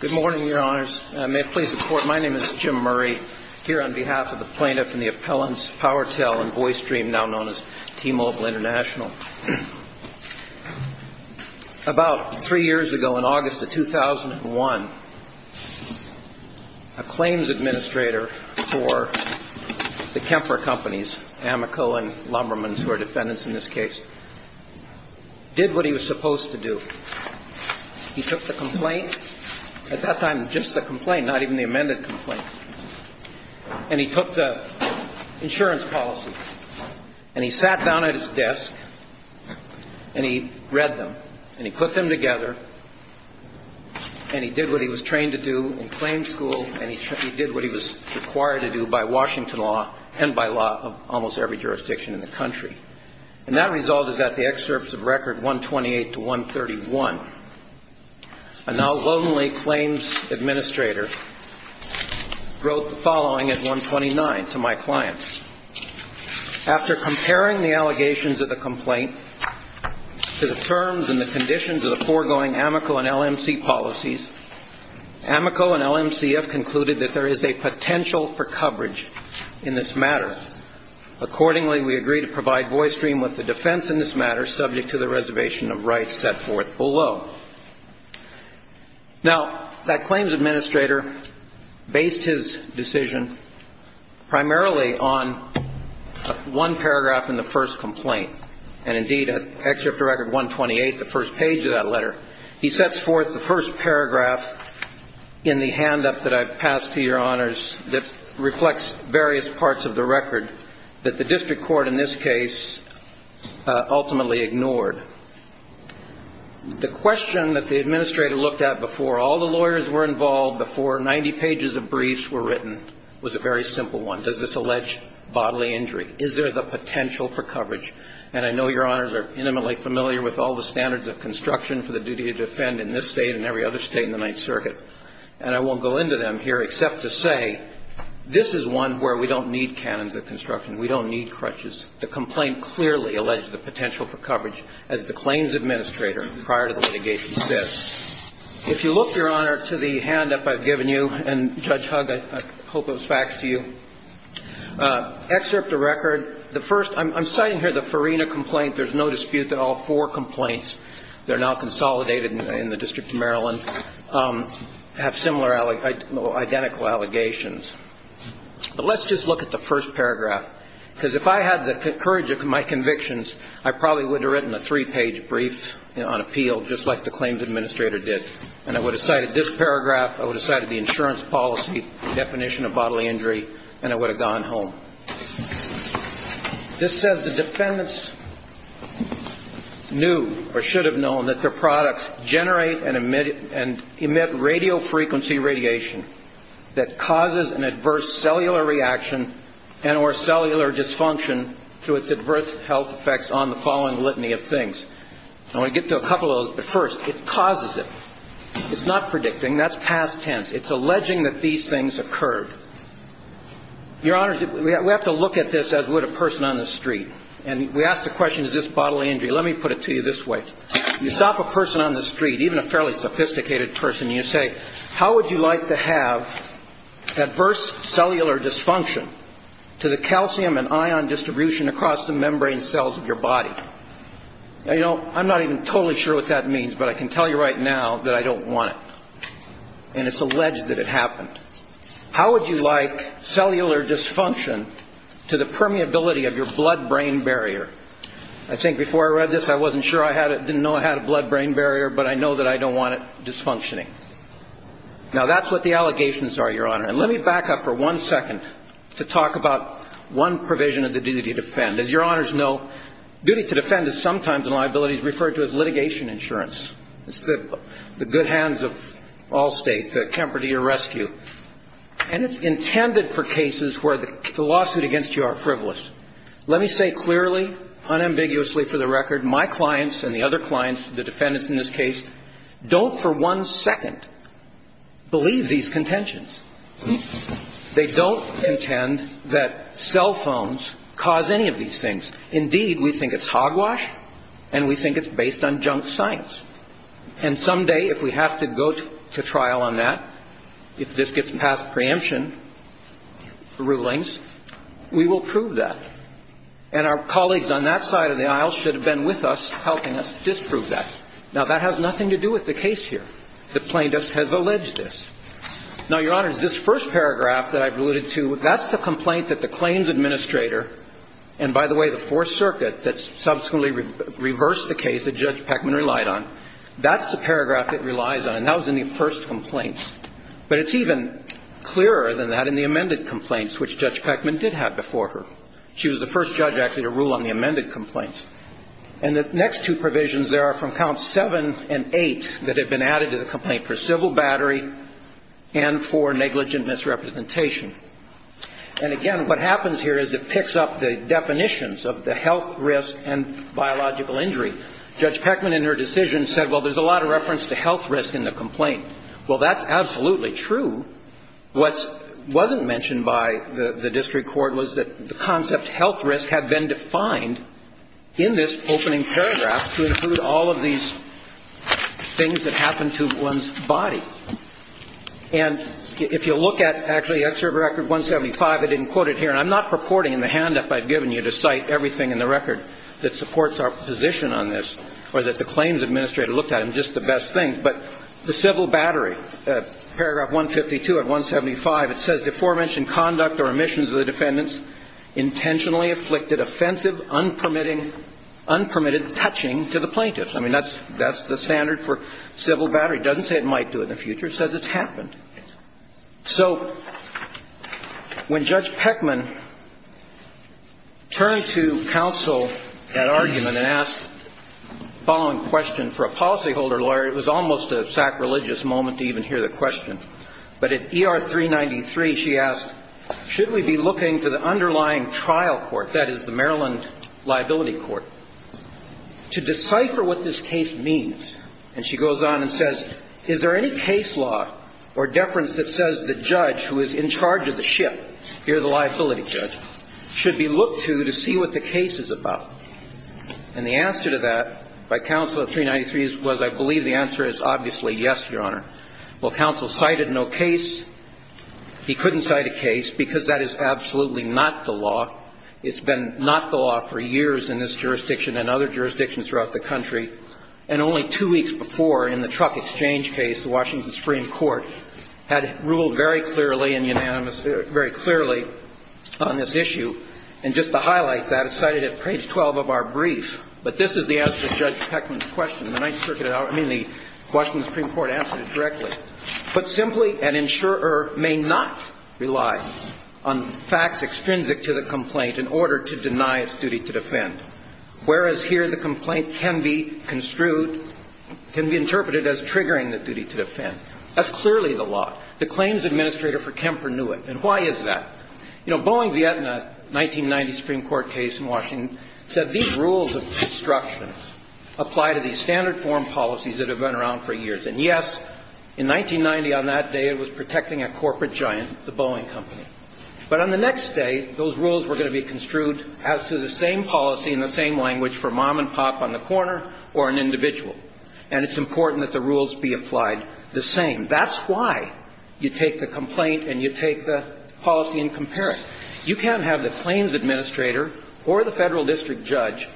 Good morning, Your Honors. May it please the Court, my name is Jim Murray, here on behalf of the plaintiff and the appellants Powertel and Voicestream, now known as T-Mobile International. About three years ago, in August of 2001, a claims administrator for the Kemper Companies, Amoco and Lumbermans, who are defendants in this case, did what he was supposed to do. He took the complaint, at that time just the complaint, not even the amended complaint, and he took the insurance policy, and he sat down at his desk, and he read them, and he put them together, and he did what he was trained to do in claim school, and he did what he was required to do by Washington law and by law of almost every jurisdiction in the country. And that result is at the excerpts of record 128 to 131. A now lonely claims administrator wrote the following at 129 to my client. After comparing the allegations of the complaint to the terms and the conditions of the foregoing Amoco and LMC policies, Amoco and LMC have concluded that there is a potential for coverage in this matter. Accordingly, we agree to provide Voicestream with the defense in this matter subject to the reservation of rights set forth below. Now, that claims administrator based his decision primarily on one paragraph in the first complaint. And, indeed, at excerpt of record 128, the first page of that letter, he sets forth the first paragraph in the hand-up that I've passed to your honors that reflects various parts of the record that the district court in this case ultimately ignored. The question that the administrator looked at before all the lawyers were involved, before 90 pages of briefs were written, was a very simple one. Does this allege bodily injury? Is there the potential for coverage? And I know your honors are intimately familiar with all the standards of construction for the duty to defend in this State and every other State in the Ninth Circuit. And I won't go into them here except to say this is one where we don't need canons of construction. We don't need crutches. The complaint clearly alleges the potential for coverage as the claims administrator prior to the litigation says. If you look, your honor, to the hand-up I've given you, and Judge Hugg, I hope it was faxed to you, excerpt of record, the first, I'm citing here the Farina complaint. There's no dispute that all four complaints that are now consolidated in the District of Maryland have similar, identical allegations. But let's just look at the first paragraph because if I had the courage of my convictions, I probably would have written a three-page brief on appeal just like the claims administrator did. And I would have cited this paragraph, I would have cited the insurance policy definition of bodily injury, and I would have gone home. This says the defendants knew or should have known that their products generate and emit radiofrequency radiation that causes an adverse cellular reaction and or cellular dysfunction through its adverse health effects on the following litany of things. I want to get to a couple of those, but first, it causes it. It's not predicting. That's past tense. It's alleging that these things occurred. Your honor, we have to look at this as would a person on the street. And we ask the question, is this bodily injury? Let me put it to you this way. You stop a person on the street, even a fairly sophisticated person, and you say, how would you like to have adverse cellular dysfunction to the calcium and ion distribution across the membrane cells of your body? Now, you know, I'm not even totally sure what that means, but I can tell you right now that I don't want it. And it's alleged that it happened. How would you like cellular dysfunction to the permeability of your blood-brain barrier? I think before I read this, I wasn't sure I had it, didn't know I had a blood-brain barrier, but I know that I don't want it dysfunctioning. Now, that's what the allegations are, your honor. And let me back up for one second to talk about one provision of the duty to defend. As your honors know, duty to defend is sometimes in liabilities referred to as litigation insurance. It's the good hands of all States, Kemper to your rescue. And it's intended for cases where the lawsuit against you are frivolous. Let me say clearly, unambiguously for the record, my clients and the other clients, the defendants in this case, don't for one second believe these contentions. They don't contend that cell phones cause any of these things. Indeed, we think it's hogwash and we think it's based on junk science. And someday, if we have to go to trial on that, if this gets past preemption rulings, we will prove that. And our colleagues on that side of the aisle should have been with us helping us disprove that. Now, that has nothing to do with the case here. The plaintiffs have alleged this. Now, your honors, this first paragraph that I've alluded to, that's the complaint that the claims administrator and, by the way, the Fourth Circuit that subsequently reversed the case that Judge Peckman relied on, that's the paragraph it relies on. And that was in the first complaint. But it's even clearer than that in the amended complaints, which Judge Peckman did have before her. She was the first judge, actually, to rule on the amended complaints. And the next two provisions there are from Counts 7 and 8 that have been added to the complaint for civil battery and for negligent misrepresentation. And, again, what happens here is it picks up the definitions of the health risk and biological injury. Judge Peckman, in her decision, said, well, there's a lot of reference to health risk in the complaint. Well, that's absolutely true. What wasn't mentioned by the district court was that the concept health risk had been defined in this opening paragraph to include all of these things that happen to one's body. And if you look at, actually, Excerpt Record 175, I didn't quote it here, and I'm not purporting in the hand-up I've given you to cite everything in the record that supports our position on this or that the claims administrator looked at. It's just the best thing. But the civil battery, paragraph 152 of 175, it says, Deforementioned conduct or omissions of the defendants intentionally afflicted offensive, unpermitted touching to the plaintiffs. I mean, that's the standard for civil battery. It doesn't say it might do it in the future. It says it's happened. So when Judge Peckman turned to counsel that argument and asked the following question for a policyholder lawyer, it was almost a sacrilegious moment to even hear the question. But at ER 393, she asked, should we be looking to the underlying trial court, that is, the Maryland liability court, to decipher what this case means? And she goes on and says, is there any case law or deference that says the judge who is in charge of the ship, here the liability judge, should be looked to to see what the case is about? And the answer to that by counsel at 393 was, I believe the answer is obviously yes, Your Honor. While counsel cited no case, he couldn't cite a case because that is absolutely not the law. It's been not the law for years in this jurisdiction and other jurisdictions throughout the country. And only two weeks before, in the truck exchange case, the Washington Supreme Court had ruled very clearly and unanimously, very clearly on this issue. And just to highlight that, it's cited at page 12 of our brief. But this is the answer to Judge Peckman's question. The Ninth Circuit, I mean, the Washington Supreme Court answered it directly. Put simply, an insurer may not rely on facts extrinsic to the complaint in order to deny its duty to defend, whereas here the complaint can be construed, can be interpreted as triggering the duty to defend. That's clearly the law. The claims administrator for Kemper knew it. And why is that? You know, Boeing v. Aetna, 1990 Supreme Court case in Washington, said these rules of construction apply to these standard form policies that have been around for years. And, yes, in 1990 on that day, it was protecting a corporate giant, the Boeing Company. But on the next day, those rules were going to be construed as to the same policy and the same language for mom and pop on the corner or an individual. And it's important that the rules be applied the same. And that's why you take the complaint and you take the policy and compare it. You can't have the claims administrator or the federal district judge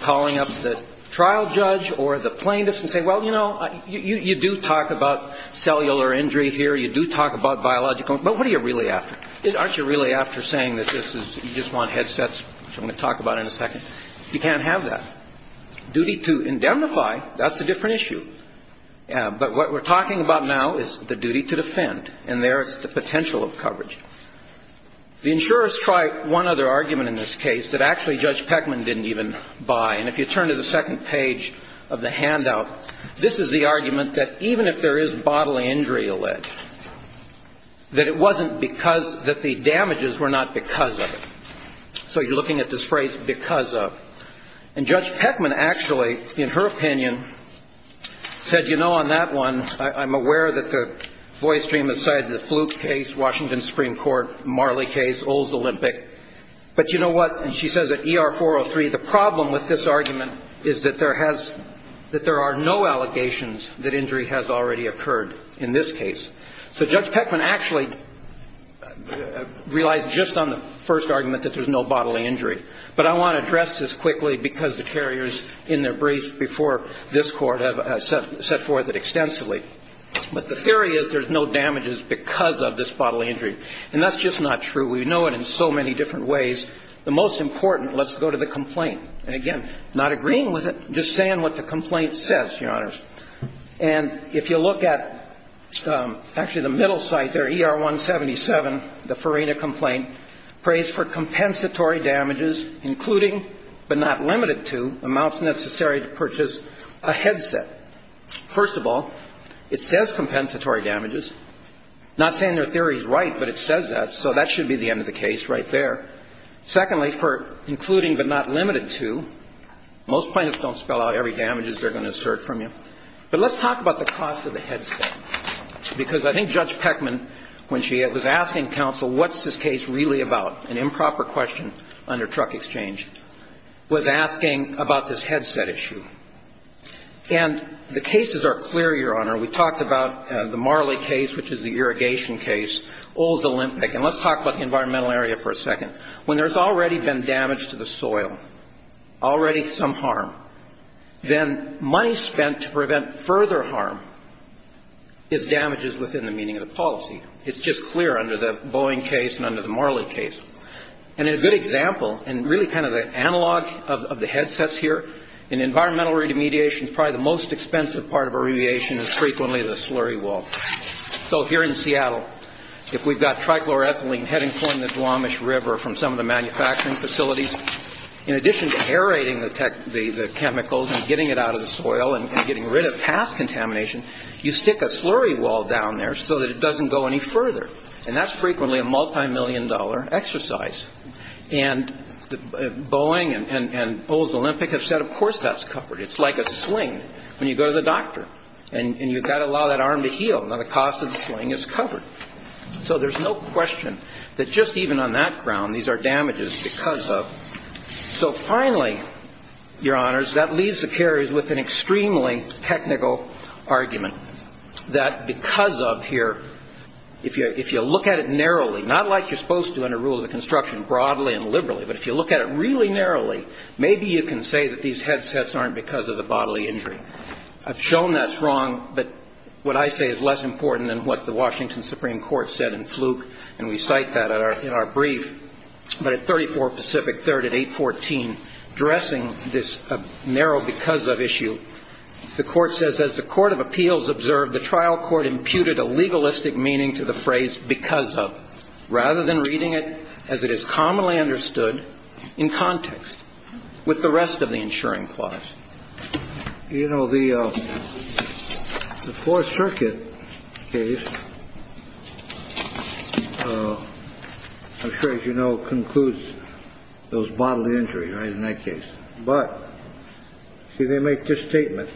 calling up the trial judge or the plaintiffs and say, well, you know, you do talk about cellular injury here. You do talk about biological. But what are you really after? Aren't you really after saying that this is you just want headsets, which I'm going to talk about in a second? You can't have that. Duty to indemnify, that's a different issue. But what we're talking about now is the duty to defend. And there is the potential of coverage. The insurers try one other argument in this case that actually Judge Peckman didn't even buy. And if you turn to the second page of the handout, this is the argument that even if there is bodily injury alleged, that it wasn't because that the damages were not because of it. So you're looking at this phrase because of. And Judge Peckman actually, in her opinion, said, you know, on that one, I'm aware that the Voice Dream has cited the Fluke case, Washington Supreme Court, Marley case, Olds Olympic. But you know what? And she says that ER 403, the problem with this argument is that there has that there are no allegations that injury has already occurred in this case. So Judge Peckman actually realized just on the first argument that there's no bodily injury. But I want to address this quickly because the carriers in their briefs before this Court have set forth it extensively. But the theory is there's no damages because of this bodily injury. And that's just not true. We know it in so many different ways. The most important, let's go to the complaint. And again, not agreeing with it, just saying what the complaint says, Your Honors. And if you look at actually the middle site there, ER 177, the Farina complaint, prays for compensatory damages, including but not limited to amounts necessary to purchase a headset. First of all, it says compensatory damages. Not saying their theory is right, but it says that. So that should be the end of the case right there. Secondly, for including but not limited to, most plaintiffs don't spell out every damages they're going to assert from you. But let's talk about the cost of the headset. Because I think Judge Peckman, when she was asking counsel what's this case really about, an improper question under truck exchange, was asking about this headset issue. And the cases are clear, Your Honor. We talked about the Marley case, which is the irrigation case, Olds Olympic. And let's talk about the environmental area for a second. When there's already been damage to the soil, already some harm, then money spent to prevent further harm is damages within the meaning of the policy. It's just clear under the Boeing case and under the Marley case. And in a good example, and really kind of the analog of the headsets here, in environmental remediation, probably the most expensive part of a remediation is frequently the slurry wall. So here in Seattle, if we've got trichloroethylene heading toward the Duwamish River from some of the manufacturing facilities, in addition to aerating the chemicals and getting it out of the soil and getting rid of past contamination, you stick a slurry wall down there so that it doesn't go any further. And that's frequently a multimillion-dollar exercise. And Boeing and Olds Olympic have said, of course that's covered. It's like a sling when you go to the doctor and you've got to allow that arm to heal. Now the cost of the sling is covered. So there's no question that just even on that ground, these are damages because of. So finally, Your Honors, that leaves the carriers with an extremely technical argument that because of here, if you look at it narrowly, not like you're supposed to under rules of construction broadly and liberally, but if you look at it really narrowly, maybe you can say that these headsets aren't because of the bodily injury. I've shown that's wrong, but what I say is less important than what the Washington Supreme Court said in fluke, and we cite that in our brief. But at 34 Pacific Third at 814, addressing this narrow because of issue, the Court says, as the Court of Appeals observed, the trial court imputed a legalistic meaning to the phrase because of. Rather than reading it as it is commonly understood in context with the rest of the insuring clause. You know, the Fourth Circuit case. I'm sure, as you know, concludes those bodily injuries in that case. But, see, they make this statement.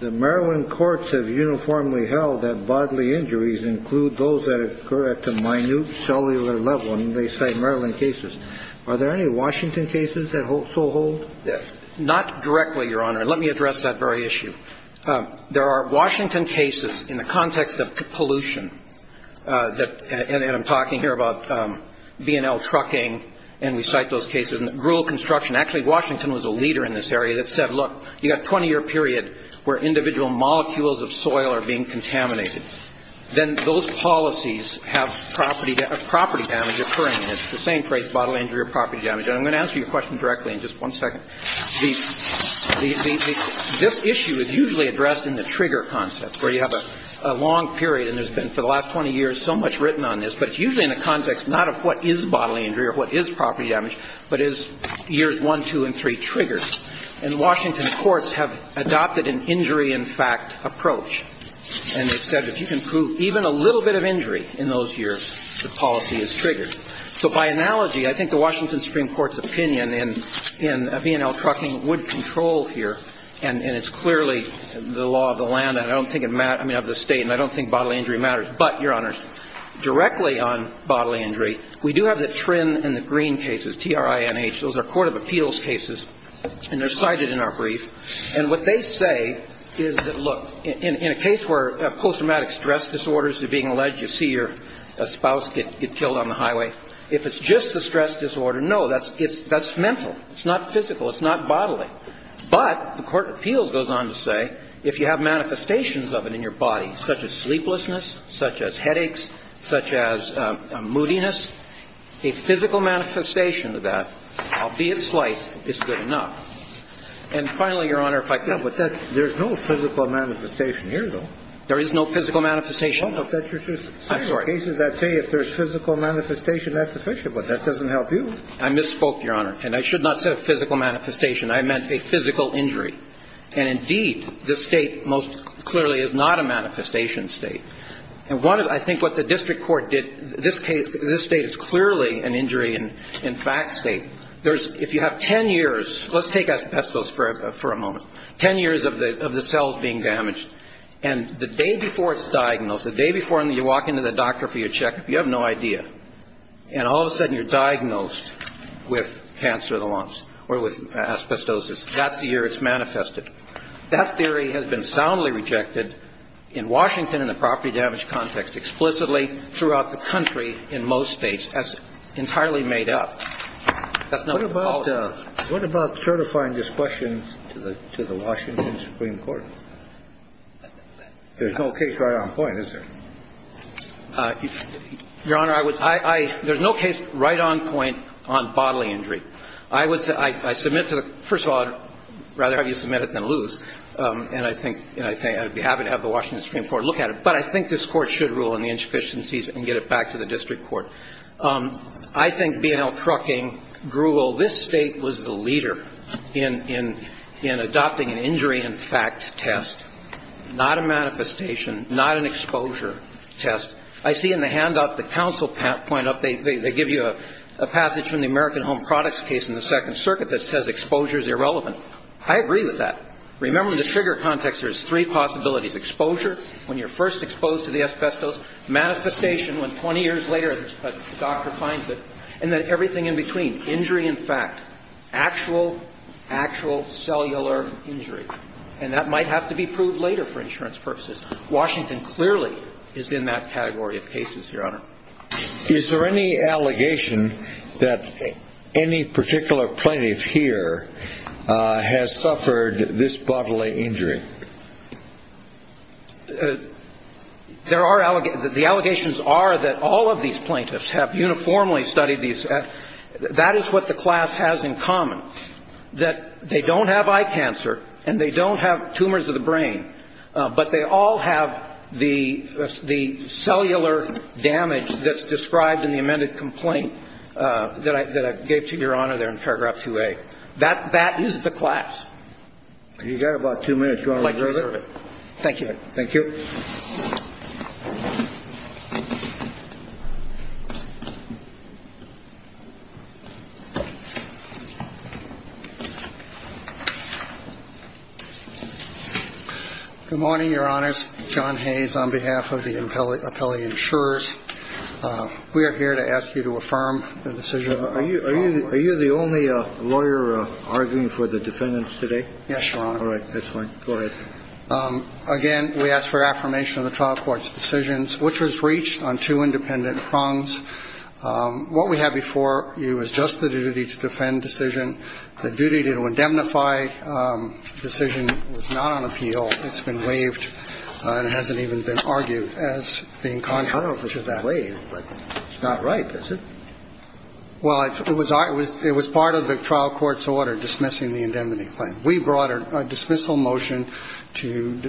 The Maryland courts have uniformly held that bodily injuries include those that occur at the minute cellular level, and they cite Maryland cases. Are there any Washington cases that so hold? Not directly, Your Honor. Let me address that very issue. There are Washington cases in the context of pollution that, and I'm talking here about B&L trucking, and we cite those cases, and rural construction. Actually, Washington was a leader in this area that said, look, you've got a 20-year period where individual molecules of soil are being contaminated. Then those policies have property damage occurring. It's the same phrase, bodily injury or property damage. And I'm going to answer your question directly in just one second. This issue is usually addressed in the trigger concept, where you have a long period, and there's been, for the last 20 years, so much written on this. But it's usually in the context not of what is bodily injury or what is property damage, but is years 1, 2, and 3 triggers. And Washington courts have adopted an injury-in-fact approach. And they've said if you can prove even a little bit of injury in those years, the policy is triggered. So by analogy, I think the Washington Supreme Court's opinion in B&L trucking would control here, and it's clearly the law of the land. I don't think it matters. I mean, I have the State, and I don't think bodily injury matters. But, Your Honors, directly on bodily injury, we do have the Trin and the Green cases, T-R-I-N-H. Those are court of appeals cases, and they're cited in our brief. And what they say is that, look, in a case where post-traumatic stress disorders are being alleged, you see your spouse get killed on the highway. If it's just the stress disorder, no, that's mental. It's not physical. It's not bodily. But the court of appeals goes on to say if you have manifestations of it in your body, such as sleeplessness, such as headaches, such as moodiness, a physical manifestation of that, albeit slight, is good enough. And finally, Your Honor, if I could. Yeah, but there's no physical manifestation here, though. There is no physical manifestation. I'm sorry. There are cases that say if there's physical manifestation, that's sufficient, but that doesn't help you. I misspoke, Your Honor. And I should not say physical manifestation. I meant a physical injury. And indeed, this state most clearly is not a manifestation state. And I think what the district court did, this state is clearly an injury in fact state. If you have ten years, let's take asbestos for a moment, ten years of the cells being damaged, and the day before it's diagnosed, the day before you walk into the doctor for your check-up, you have no idea, and all of a sudden you're diagnosed with cancer of the lungs or with asbestosis. That's the year it's manifested. That theory has been soundly rejected in Washington and the property damage context explicitly throughout the country in most states, as entirely made up. That's not what the policy is. What about certifying this question to the Washington Supreme Court? There's no case right on point, is there? Your Honor, I would – I – there's no case right on point on bodily injury. I would – I submit to the – first of all, I'd rather have you submit it than lose. And I think – and I'd be happy to have the Washington Supreme Court look at it. But I think this Court should rule on the insufficiencies and get it back to the district court. I think B&L Trucking grew – this state was the leader in adopting an injury in fact test, not a manifestation, not an exposure test. I see in the handout the counsel point up – they give you a passage from the American Home Products case in the Second Circuit that says exposure is irrelevant. I agree with that. Remember, in the trigger context, there's three possibilities. Exposure, when you're first exposed to the asbestos. Manifestation, when 20 years later a doctor finds it. And then everything in between, injury in fact. Actual, actual cellular injury. And that might have to be proved later for insurance purposes. Washington clearly is in that category of cases, Your Honor. Is there any allegation that any particular plaintiff here has suffered this bodily injury? There are – the allegations are that all of these plaintiffs have uniformly studied these. That is what the class has in common, that they don't have eye cancer and they don't have tumors of the brain. But they all have the cellular damage that's described in the amended complaint that I gave to Your Honor there in paragraph 2A. That is the class. You've got about two minutes. Do you want to reserve it? Thank you, Your Honor. Good morning, Your Honors. John Hayes on behalf of the appellee insurers. We are here to ask you to affirm the decision. Are you the only lawyer arguing for the defendants today? Yes, Your Honor. All right. That's fine. Go ahead. Again, we ask for affirmation of the trial court's decisions, which was reached on two independent prongs. What we have before you is just the duty to defend decision. The duty to indemnify decision was not on appeal. It's been waived and hasn't even been argued as being contrary to that. It's not right, is it? Well, it was part of the trial court's order dismissing the indemnity claim. We brought a dismissal motion to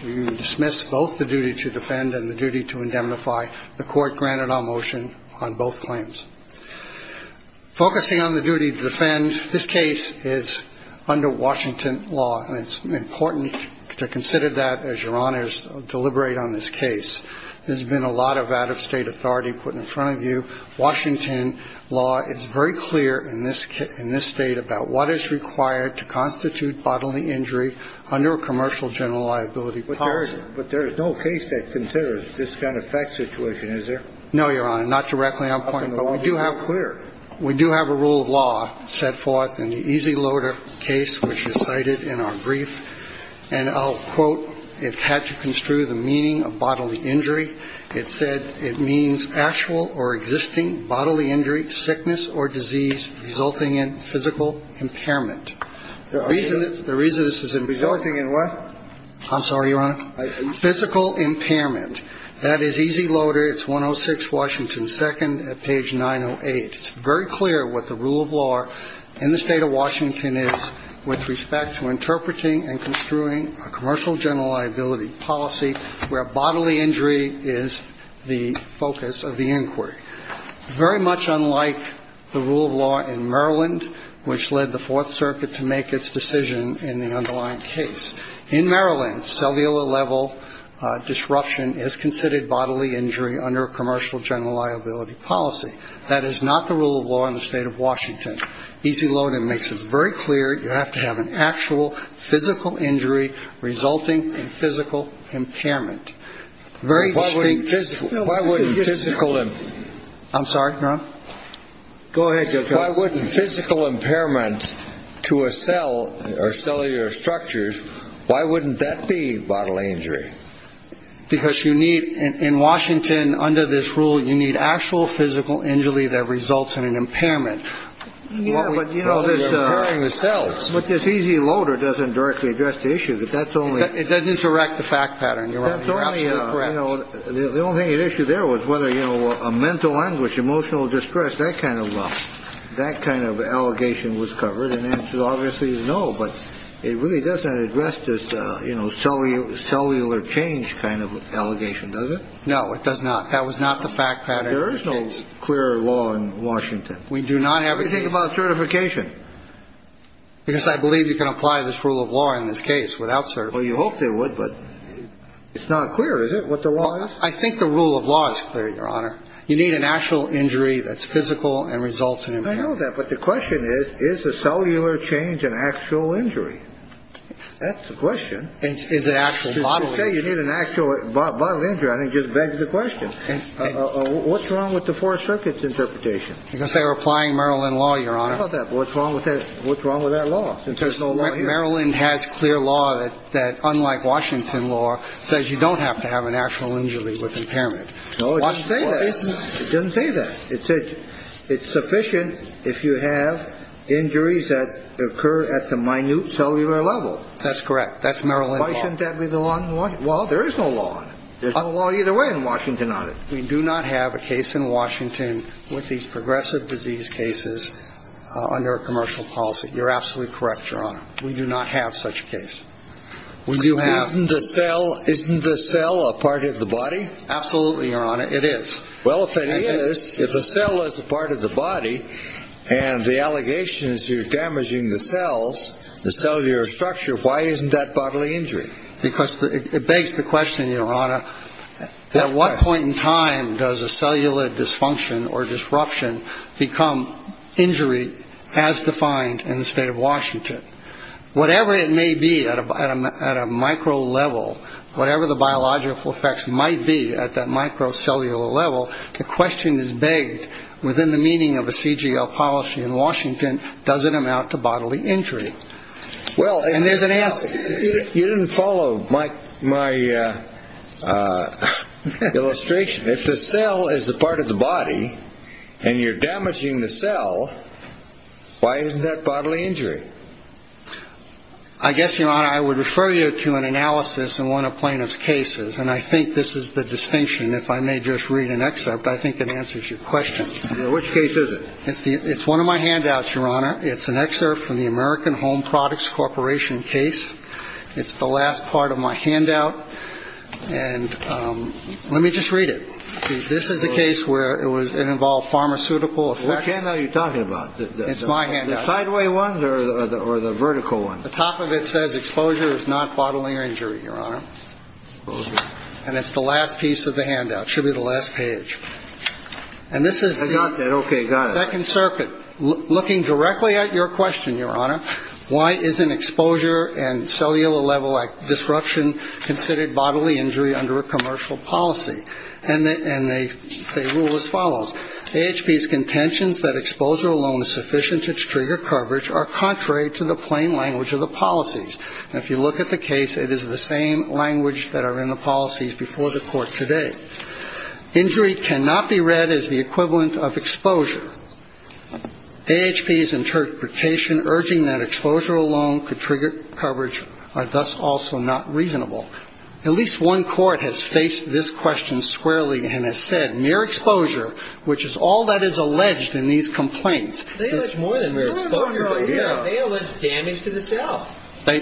dismiss both the duty to defend and the duty to indemnify. The court granted our motion on both claims. Focusing on the duty to defend, this case is under Washington law, and it's important to consider that as Your Honors deliberate on this case. There's been a lot of out-of-state authority put in front of you. It's very clear in this State about what is required to constitute bodily injury under a commercial general liability policy. But there is no case that considers this kind of fact situation, is there? No, Your Honor. Not directly on point. But we do have a rule of law set forth in the Easy Loader case, which is cited in our brief. And I'll quote, it had to construe the meaning of bodily injury. It said it means actual or existing bodily injury, sickness or disease resulting in physical impairment. The reason this is resulting in what? I'm sorry, Your Honor? Physical impairment. That is Easy Loader. It's 106 Washington 2nd at page 908. It's very clear what the rule of law in the State of Washington is with respect to interpreting and construing a commercial general liability policy where bodily injury is the focus of the inquiry. Very much unlike the rule of law in Maryland, which led the Fourth Circuit to make its decision in the underlying case. In Maryland, cellular level disruption is considered bodily injury under a commercial general liability policy. That is not the rule of law in the State of Washington. Easy Loader makes it very clear you have to have an actual physical injury resulting in physical impairment. Very distinct. Why wouldn't physical. I'm sorry. Go ahead. Why wouldn't physical impairment to a cell or cellular structures? Why wouldn't that be bodily injury? Because you need in Washington under this rule, you need actual physical injury that results in an impairment. Yeah. But, you know, the cells with this easy loader doesn't directly address the issue. But that's only it doesn't direct the fact pattern. You're absolutely correct. You know, the only issue there was whether, you know, a mental language, emotional distress, that kind of love, that kind of allegation was covered. And then obviously, no, but it really doesn't address this, you know, cellular cellular change kind of allegation, does it? No, it does not. That was not the fact that there is no clear law in Washington. We do not have anything about certification because I believe you can apply this rule of law in this case without. Well, you hope they would, but it's not clear, is it, what the law is? I think the rule of law is clear, Your Honor. You need an actual injury that's physical and results in impairment. I know that. But the question is, is the cellular change an actual injury? That's the question. Is it actual bodily injury? To say you need an actual bodily injury, I think, just begs the question. What's wrong with the Four Circuit's interpretation? Because they were applying Maryland law, Your Honor. How about that? What's wrong with that? What's wrong with that law? Because Maryland has clear law that, unlike Washington law, says you don't have to have an actual injury with impairment. No, it doesn't say that. It doesn't say that. It says it's sufficient if you have injuries that occur at the minute cellular level. That's correct. That's Maryland law. Why shouldn't that be the law in Washington? Well, there is no law on it. There's no law either way in Washington on it. We do not have a case in Washington with these progressive disease cases under a commercial policy. You're absolutely correct, Your Honor. We do not have such a case. Isn't the cell a part of the body? Absolutely, Your Honor. It is. Well, if it is, if the cell is a part of the body and the allegation is you're damaging the cells, the cellular structure, why isn't that bodily injury? Because it begs the question, Your Honor, at what point in time does a cellular dysfunction or disruption become injury as defined in the state of Washington? Whatever it may be at a micro level, whatever the biological effects might be at that microcellular level, the question is begged within the meaning of a CGL policy in Washington, does it amount to bodily injury? Well, and there's an answer. You didn't follow my illustration. If the cell is a part of the body and you're damaging the cell, why isn't that bodily injury? I guess, Your Honor, I would refer you to an analysis in one of plaintiff's cases, and I think this is the distinction. If I may just read an excerpt, I think it answers your question. Which case is it? It's one of my handouts, Your Honor. It's an excerpt from the American Home Products Corporation case. It's the last part of my handout. And let me just read it. This is a case where it involved pharmaceutical effects. What handout are you talking about? It's my handout. The sideway ones or the vertical ones? The top of it says exposure is not bodily injury, Your Honor. And it's the last piece of the handout. Should be the last page. And this is the second circuit. Looking directly at your question, Your Honor, why isn't exposure and cellular-level disruption considered bodily injury under a commercial policy? And they rule as follows. AHP's contentions that exposure alone is sufficient to trigger coverage are contrary to the plain language of the policies. And if you look at the case, it is the same language that are in the policies before the Court today. Injury cannot be read as the equivalent of exposure. AHP's interpretation urging that exposure alone could trigger coverage are thus also not reasonable. At least one court has faced this question squarely and has said mere exposure, which is all that is alleged in these complaints. They allege more than mere exposure, Your Honor. They allege damage to the cell.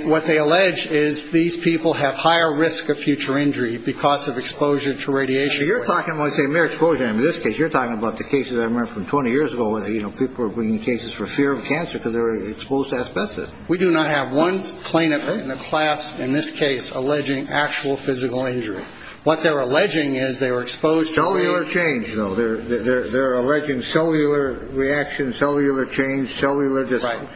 What they allege is these people have higher risk of future injury because of exposure to radiation. You're talking about, say, mere exposure. In this case, you're talking about the cases I remember from 20 years ago, where, you know, people were bringing cases for fear of cancer because they were exposed to asbestos. We do not have one plaintiff in the class in this case alleging actual physical injury. What they're alleging is they were exposed to cellular change. They're alleging cellular reaction, cellular change, cellular disruption.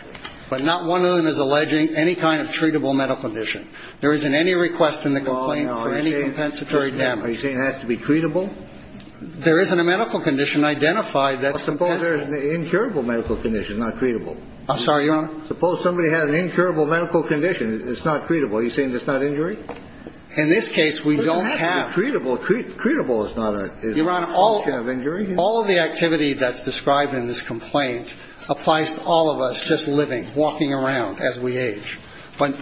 But not one of them is alleging any kind of treatable medical condition. There isn't any request in the complaint for any compensatory damage. Are you saying it has to be treatable? There isn't a medical condition identified that's compensable. Well, suppose there's an incurable medical condition, not treatable. I'm sorry, Your Honor? Suppose somebody had an incurable medical condition. It's not treatable. Are you saying it's not injury? In this case, we don't have. It doesn't have to be treatable. Treatable is not a function of injury. All of the activity that's described in this complaint applies to all of us just living, walking around as we age. But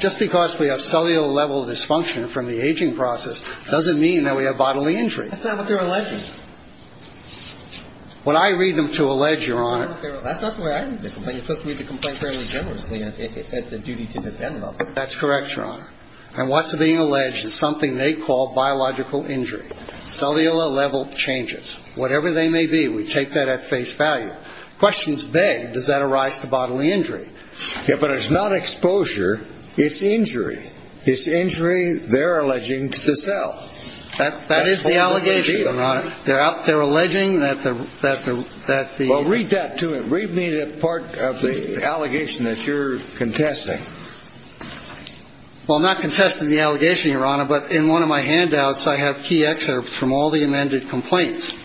just because we have cellular level dysfunction from the aging process doesn't mean that we have bodily injury. That's not what they're alleging. What I read them to allege, Your Honor. That's not the way I read the complaint. You're supposed to read the complaint fairly generously at the duty to defend level. That's correct, Your Honor. And what's being alleged is something they call biological injury. Cellular level changes. Whatever they may be, we take that at face value. The question is big. Does that arise to bodily injury? Yeah, but it's not exposure. It's injury. It's injury they're alleging to the cell. That is the allegation, Your Honor. They're alleging that the... Well, read that to him. Read me the part of the allegation that you're contesting. Well, I'm not contesting the allegation, Your Honor. But in one of my handouts, I have key excerpts from all the amended complaints.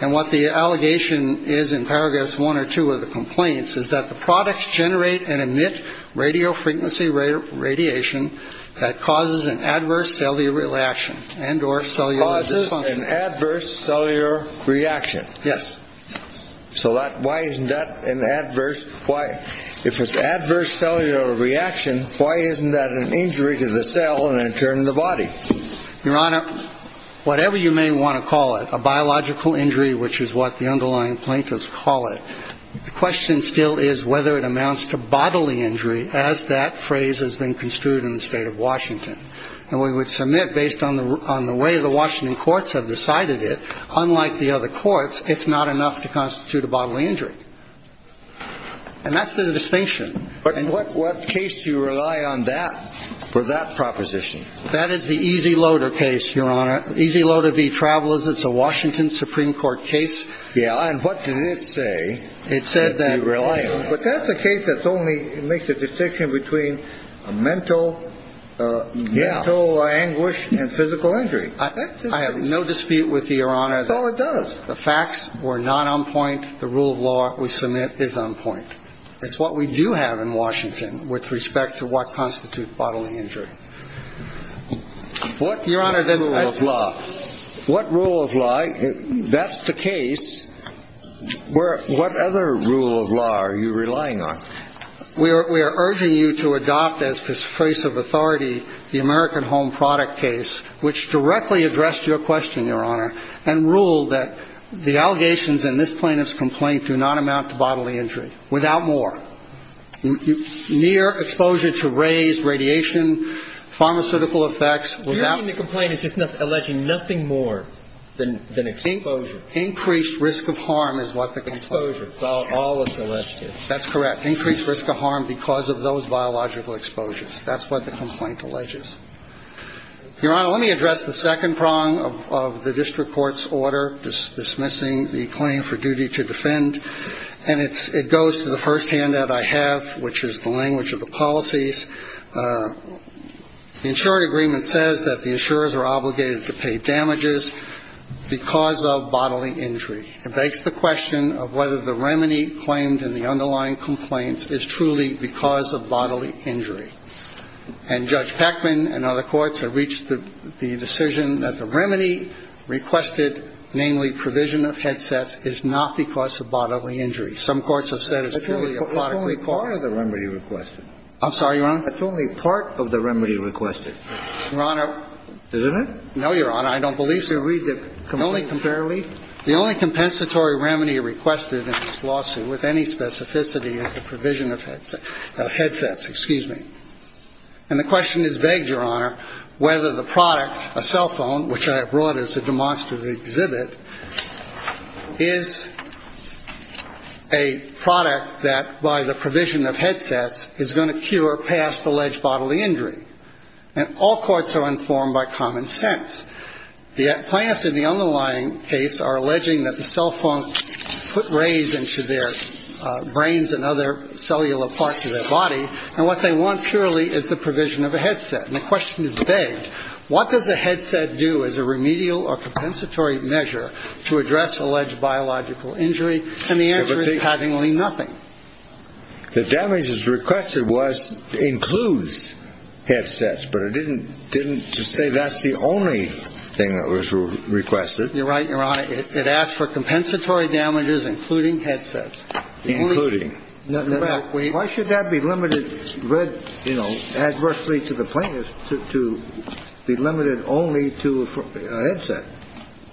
And what the allegation is in paragraphs one or two of the complaints is that the products generate and emit radiofrequency radiation that causes an adverse cellular reaction and or cellular dysfunction. Causes an adverse cellular reaction. So why isn't that an adverse? Why? If it's adverse cellular reaction, why isn't that an injury to the cell and in turn the body? Your Honor, whatever you may want to call it, a biological injury, which is what the underlying plaintiffs call it, the question still is whether it amounts to bodily injury as that phrase has been construed in the state of Washington. And we would submit based on the way the Washington courts have decided it, unlike the other courts, it's not enough to constitute a bodily injury. And that's the distinction. And what case do you rely on that for that proposition? That is the Easy Loader case, Your Honor. Easy Loader v. Travelers. It's a Washington Supreme Court case. Yeah. And what did it say? It said that. But that's a case that only makes a distinction between a mental anguish and physical injury. I have no dispute with you, Your Honor. That's all it does. The facts were not on point. The rule of law we submit is on point. It's what we do have in Washington with respect to what constitutes bodily injury. What rule of law? What rule of law? That's the case. What other rule of law are you relying on? We are urging you to adopt as persuasive authority the American Home Product case, which directly addressed your question, Your Honor, and ruled that the allegations in this plaintiff's complaint do not amount to bodily injury. Without more. Near exposure to rays, radiation, pharmaceutical effects. You mean the complaint is just alleging nothing more than exposure? Increased risk of harm is what the complaint. Exposure. That's all it's alleged to. That's correct. Increased risk of harm because of those biological exposures. That's what the complaint alleges. Your Honor, let me address the second prong of the district court's order dismissing the claim for duty to defend. And it goes to the first hand that I have, which is the language of the policies. The insurance agreement says that the insurers are obligated to pay damages because of bodily injury. It begs the question of whether the remedy claimed in the underlying complaints is truly because of bodily injury. And Judge Peckman and other courts have reached the decision that the remedy requested, namely provision of headsets, is not because of bodily injury. Some courts have said it's purely a product. It's only part of the remedy requested. I'm sorry, Your Honor? It's only part of the remedy requested. Your Honor. Isn't it? No, Your Honor. I don't believe so. The only compensatory remedy requested in this lawsuit with any specificity is the provision of headsets. Excuse me. And the question is begged, Your Honor, whether the product, a cell phone, which I have brought as a demonstrative exhibit, is a product that by the provision of headsets is going to cure past alleged bodily injury. And all courts are informed by common sense. The plaintiffs in the underlying case are alleging that the cell phone put rays into their brains and other cellular parts of their body, and what they want purely is the provision of a headset. And the question is begged, what does a headset do as a remedial or compensatory measure to address alleged biological injury? And the answer is patently nothing. The damages requested was includes headsets, but it didn't say that's the only thing that was requested. You're right, Your Honor. It asked for compensatory damages including headsets. Including. Why should that be limited, read, you know, adversely to the plaintiffs, to be limited only to a headset?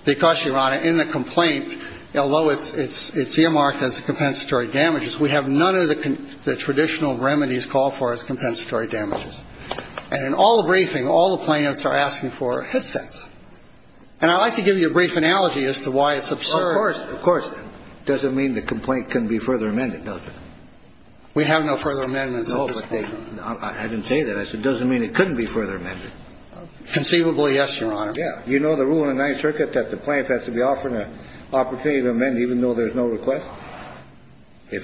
Because, Your Honor, in the complaint, although it's earmarked as compensatory damages, we have none of the traditional remedies called for as compensatory damages. And in all the briefing, all the plaintiffs are asking for headsets. And I'd like to give you a brief analogy as to why it's absurd. Well, of course, of course. It doesn't mean the complaint can be further amended, does it? We have no further amendments. No, but I didn't say that. I said it doesn't mean it couldn't be further amended. Conceivably, yes, Your Honor. Yeah. You know the rule in the Ninth Circuit that the plaintiff has to be offered an opportunity to amend even though there's no request?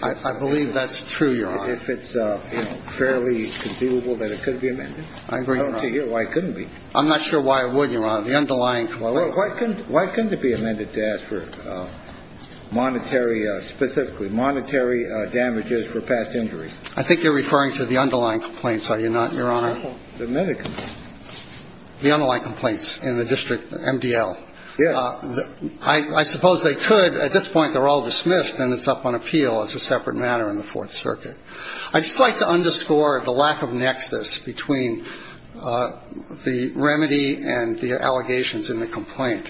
I believe that's true, Your Honor. If it's fairly conceivable that it could be amended. I agree, Your Honor. I don't see here why it couldn't be. I'm not sure why it would, Your Honor. The underlying complaints. Why couldn't it be amended to ask for monetary, specifically, monetary damages for past injuries? I think you're referring to the underlying complaints, are you not, Your Honor? The medical. The underlying complaints in the district MDL. Yeah. I suppose they could. At this point, they're all dismissed and it's up on appeal as a separate matter in the Fourth Circuit. I'd just like to underscore the lack of nexus between the remedy and the allegations in the complaint.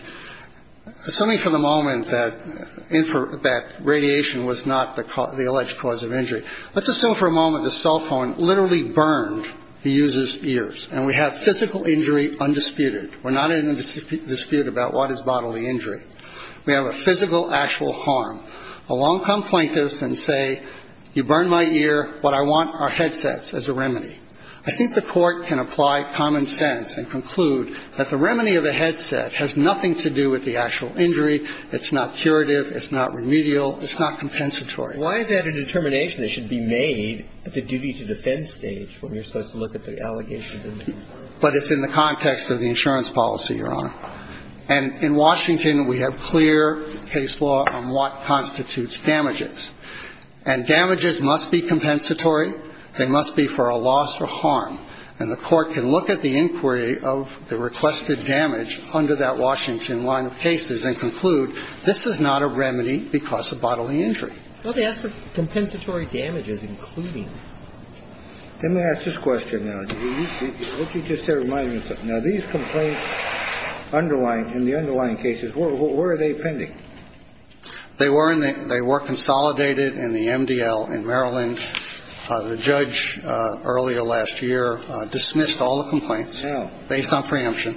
Assuming for the moment that radiation was not the alleged cause of injury, let's assume for a moment the cell phone literally burned the user's ears and we have physical injury undisputed. We're not in a dispute about what is bodily injury. We have a physical, actual harm. I think the Court can apply common sense and conclude that the remedy of a headset has nothing to do with the actual injury. It's not curative. It's not remedial. It's not compensatory. Why is that a determination that should be made at the duty to defend stage when you're supposed to look at the allegations? But it's in the context of the insurance policy, Your Honor. And the Court can look at the inquiry of the requested damage under that Washington line of cases and conclude this is not a remedy because of bodily injury. Well, they ask for compensatory damages, including. Let me ask this question now. What you just said reminds me of something. Now, these complaints underlying, in the underlying cases, where are they pending? They were in the they were consolidated in the MDL in Maryland. The judge earlier last year dismissed all the complaints based on preemption.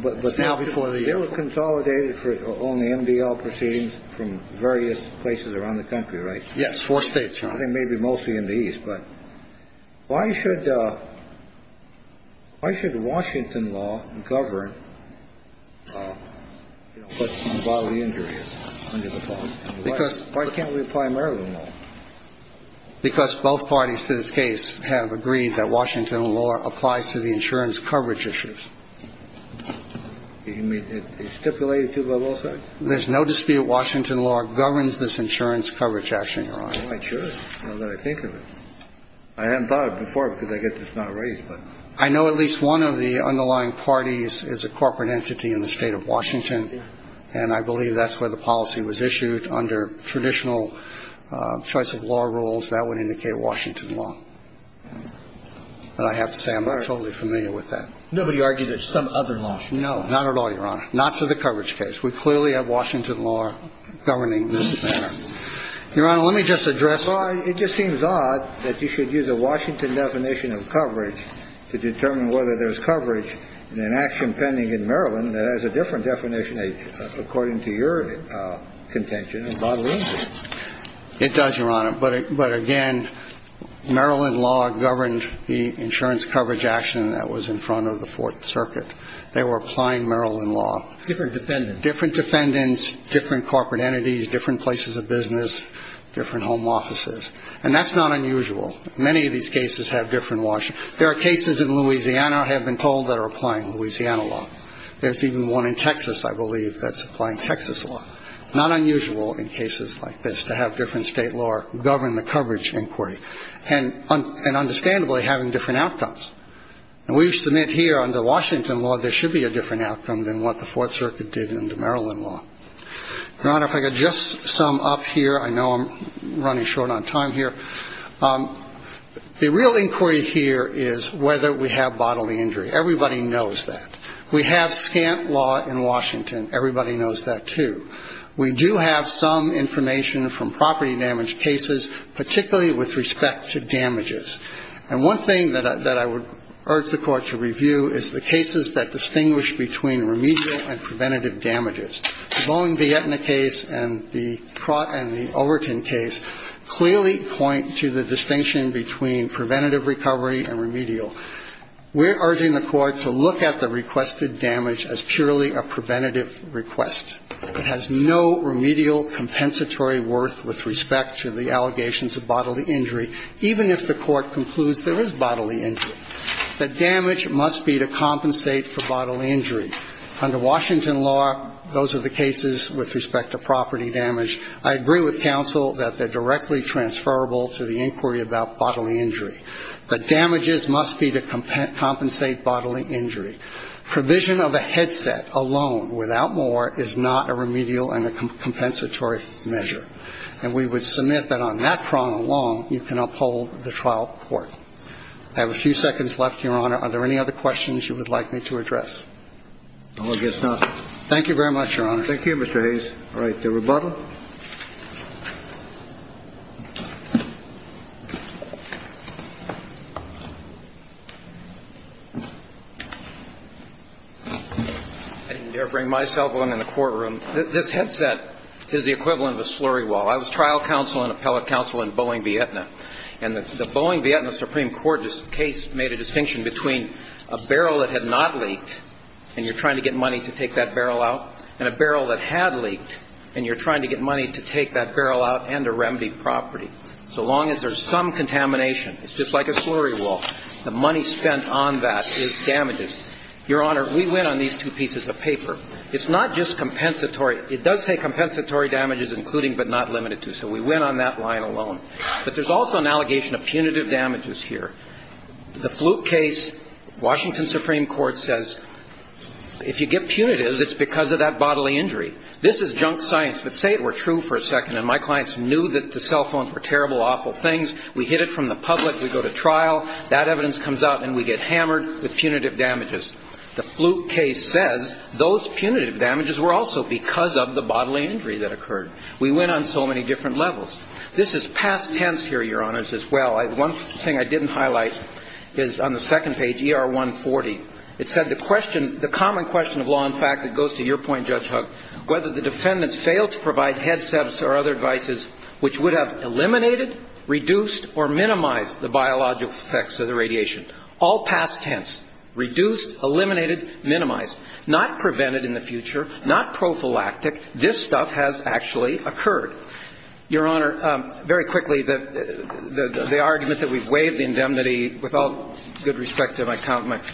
But now before they were consolidated for only MDL proceedings from various places around the country, right? Yes. Four states. I think maybe mostly in the east. But why should. Why should Washington law govern bodily injury? Because why can't we apply Maryland law? Because both parties to this case have agreed that Washington law applies to the insurance coverage issues. You mean stipulated to the law? There's no dispute. I think that Washington law governs this insurance coverage action, Your Honor. Oh, I'm sure. Now that I think of it. I hadn't thought of it before because I guess it's not raised, but. I know at least one of the underlying parties is a corporate entity in the State of Washington. And I believe that's where the policy was issued under traditional choice of law rules. That would indicate Washington law. But I have to say I'm not totally familiar with that. Nobody argued that some other law. No, not at all, Your Honor. Not to the coverage case. We clearly have Washington law governing this matter. Your Honor, let me just address. It just seems odd that you should use a Washington definition of coverage to determine whether there's coverage in an action pending in Maryland that has a different definition, according to your contention, of bodily injury. It does, Your Honor. But again, Maryland law governed the insurance coverage action that was in front of the Fourth Circuit. They were applying Maryland law. Different defendants. Different defendants, different corporate entities, different places of business, different home offices. And that's not unusual. Many of these cases have different Washington. There are cases in Louisiana, I have been told, that are applying Louisiana law. There's even one in Texas, I believe, that's applying Texas law. Not unusual in cases like this to have different State law govern the coverage inquiry and understandably having different outcomes. And we submit here under Washington law there should be a different outcome than what the Fourth Circuit did under Maryland law. Your Honor, if I could just sum up here. I know I'm running short on time here. The real inquiry here is whether we have bodily injury. Everybody knows that. We have scant law in Washington. Everybody knows that, too. We do have some information from property damage cases, particularly with respect to damages. And one thing that I would urge the Court to review is the cases that distinguish between remedial and preventative damages. The Bowen-Vietna case and the Overton case clearly point to the distinction between preventative recovery and remedial. We're urging the Court to look at the requested damage as purely a preventative request. It has no remedial compensatory worth with respect to the allegations of bodily injury, even if the Court concludes there is bodily injury. The damage must be to compensate for bodily injury. Under Washington law, those are the cases with respect to property damage. I agree with counsel that they're directly transferable to the inquiry about bodily injury. The damages must be to compensate bodily injury. Provision of a headset alone, without more, is not a remedial and a compensatory measure. And we would submit that on that prong alone, you can uphold the trial court. I have a few seconds left, Your Honor. Are there any other questions you would like me to address? I guess not. Thank you very much, Your Honor. Thank you, Mr. Hayes. All right. The rebuttal. I didn't dare bring my cell phone in the courtroom. This headset is the equivalent of a slurry wall. I was trial counsel and appellate counsel in Boeing Vietna, and the Boeing Vietna Supreme Court case made a distinction between a barrel that had not leaked, and you're trying to get money to take that barrel out, and a barrel that had leaked, and you're trying to get money to take that barrel out and a remedied property. So long as there's some contamination, it's just like a slurry wall. The money spent on that is damages. Your Honor, we went on these two pieces of paper. It's not just compensatory. It does say compensatory damages, including but not limited to. So we went on that line alone. But there's also an allegation of punitive damages here. The flute case, Washington Supreme Court says if you get punitive, it's because of that bodily injury. This is junk science, but say it were true for a second, and my clients knew that the cell phones were terrible, awful things. We hid it from the public. We go to trial. That evidence comes out, and we get hammered with punitive damages. The flute case says those punitive damages were also because of the bodily injury that occurred. We went on so many different levels. This is past tense here, Your Honors, as well. One thing I didn't highlight is on the second page, ER 140. It said the question, the common question of law and fact that goes to your point, Judge Huck, whether the defendants failed to provide headsets or other devices which would have eliminated, reduced, or minimized the biological effects of the radiation. All past tense. Reduced, eliminated, minimized. Not prevented in the future. Not prophylactic. This stuff has actually occurred. Your Honor, very quickly, the argument that we've waived the indemnity, with all good respect to my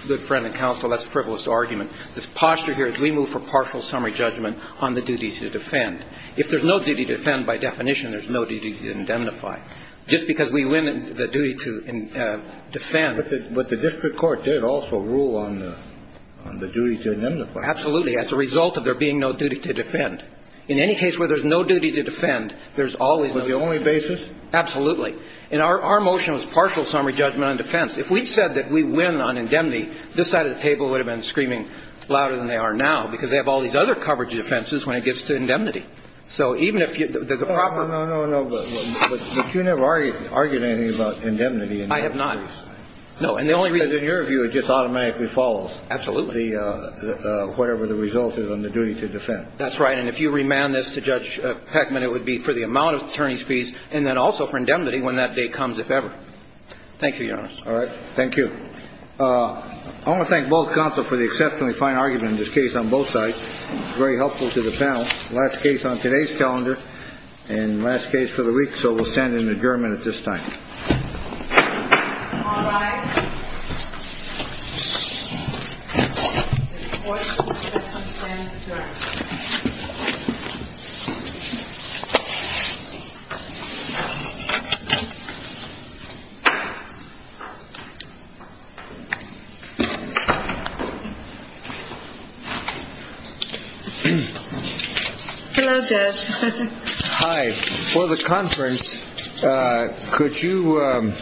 good friend and counsel, that's a frivolous argument. This posture here is we move for partial summary judgment on the duty to defend. If there's no duty to defend by definition, there's no duty to indemnify. Just because we win the duty to defend. But the district court did also rule on the duty to indemnify. Absolutely. As a result of there being no duty to defend. In any case where there's no duty to defend, there's always no duty to indemnify. Was it the only basis? Absolutely. And our motion was partial summary judgment on defense. If we said that we win on indemnity, this side of the table would have been screaming louder than they are now because they have all these other coverage defenses when it gets to indemnity. So even if there's a proper. No, no, no, no. But you never argued anything about indemnity. I have not. No. And the only reason. Because in your view, it just automatically follows. Absolutely. Whatever the result is on the duty to defend. That's right. And if you remand this to Judge Heckman, it would be for the amount of attorney's fees and then also for indemnity when that day comes, if ever. Thank you, Your Honor. All right. Thank you. I want to thank both counsel for the exceptionally fine argument in this case on both sides. Very helpful to the panel. Last case on today's calendar and last case for the week. So we'll send an adjournment at this time. the conference. Could you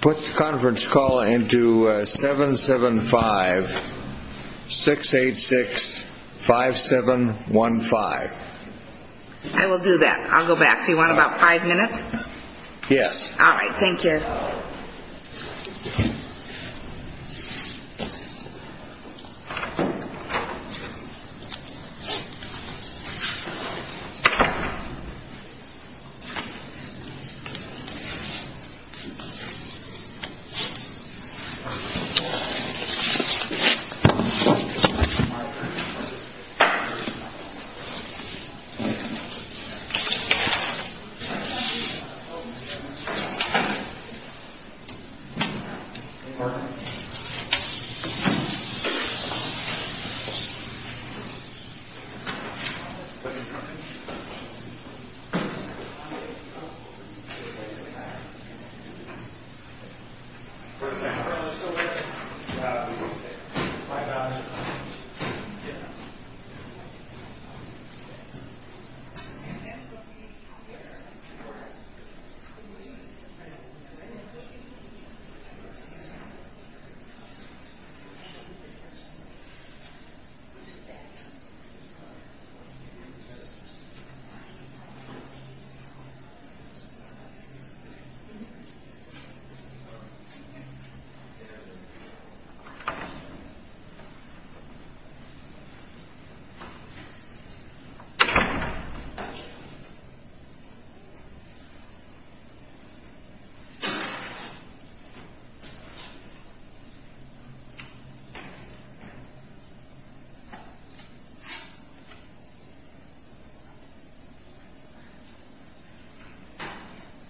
put the conference call into 775-686-5715? I will do that. I'll go back. Do you want about five minutes? Yes. All right. Thank you. Thank you. Thank you. Thank you. Thank you. Thank you. Thank you. Thank you. Thank you. Thank you. Thank you. Thank you. Thank you. Thank you. Thank you. Thank you. Thank you.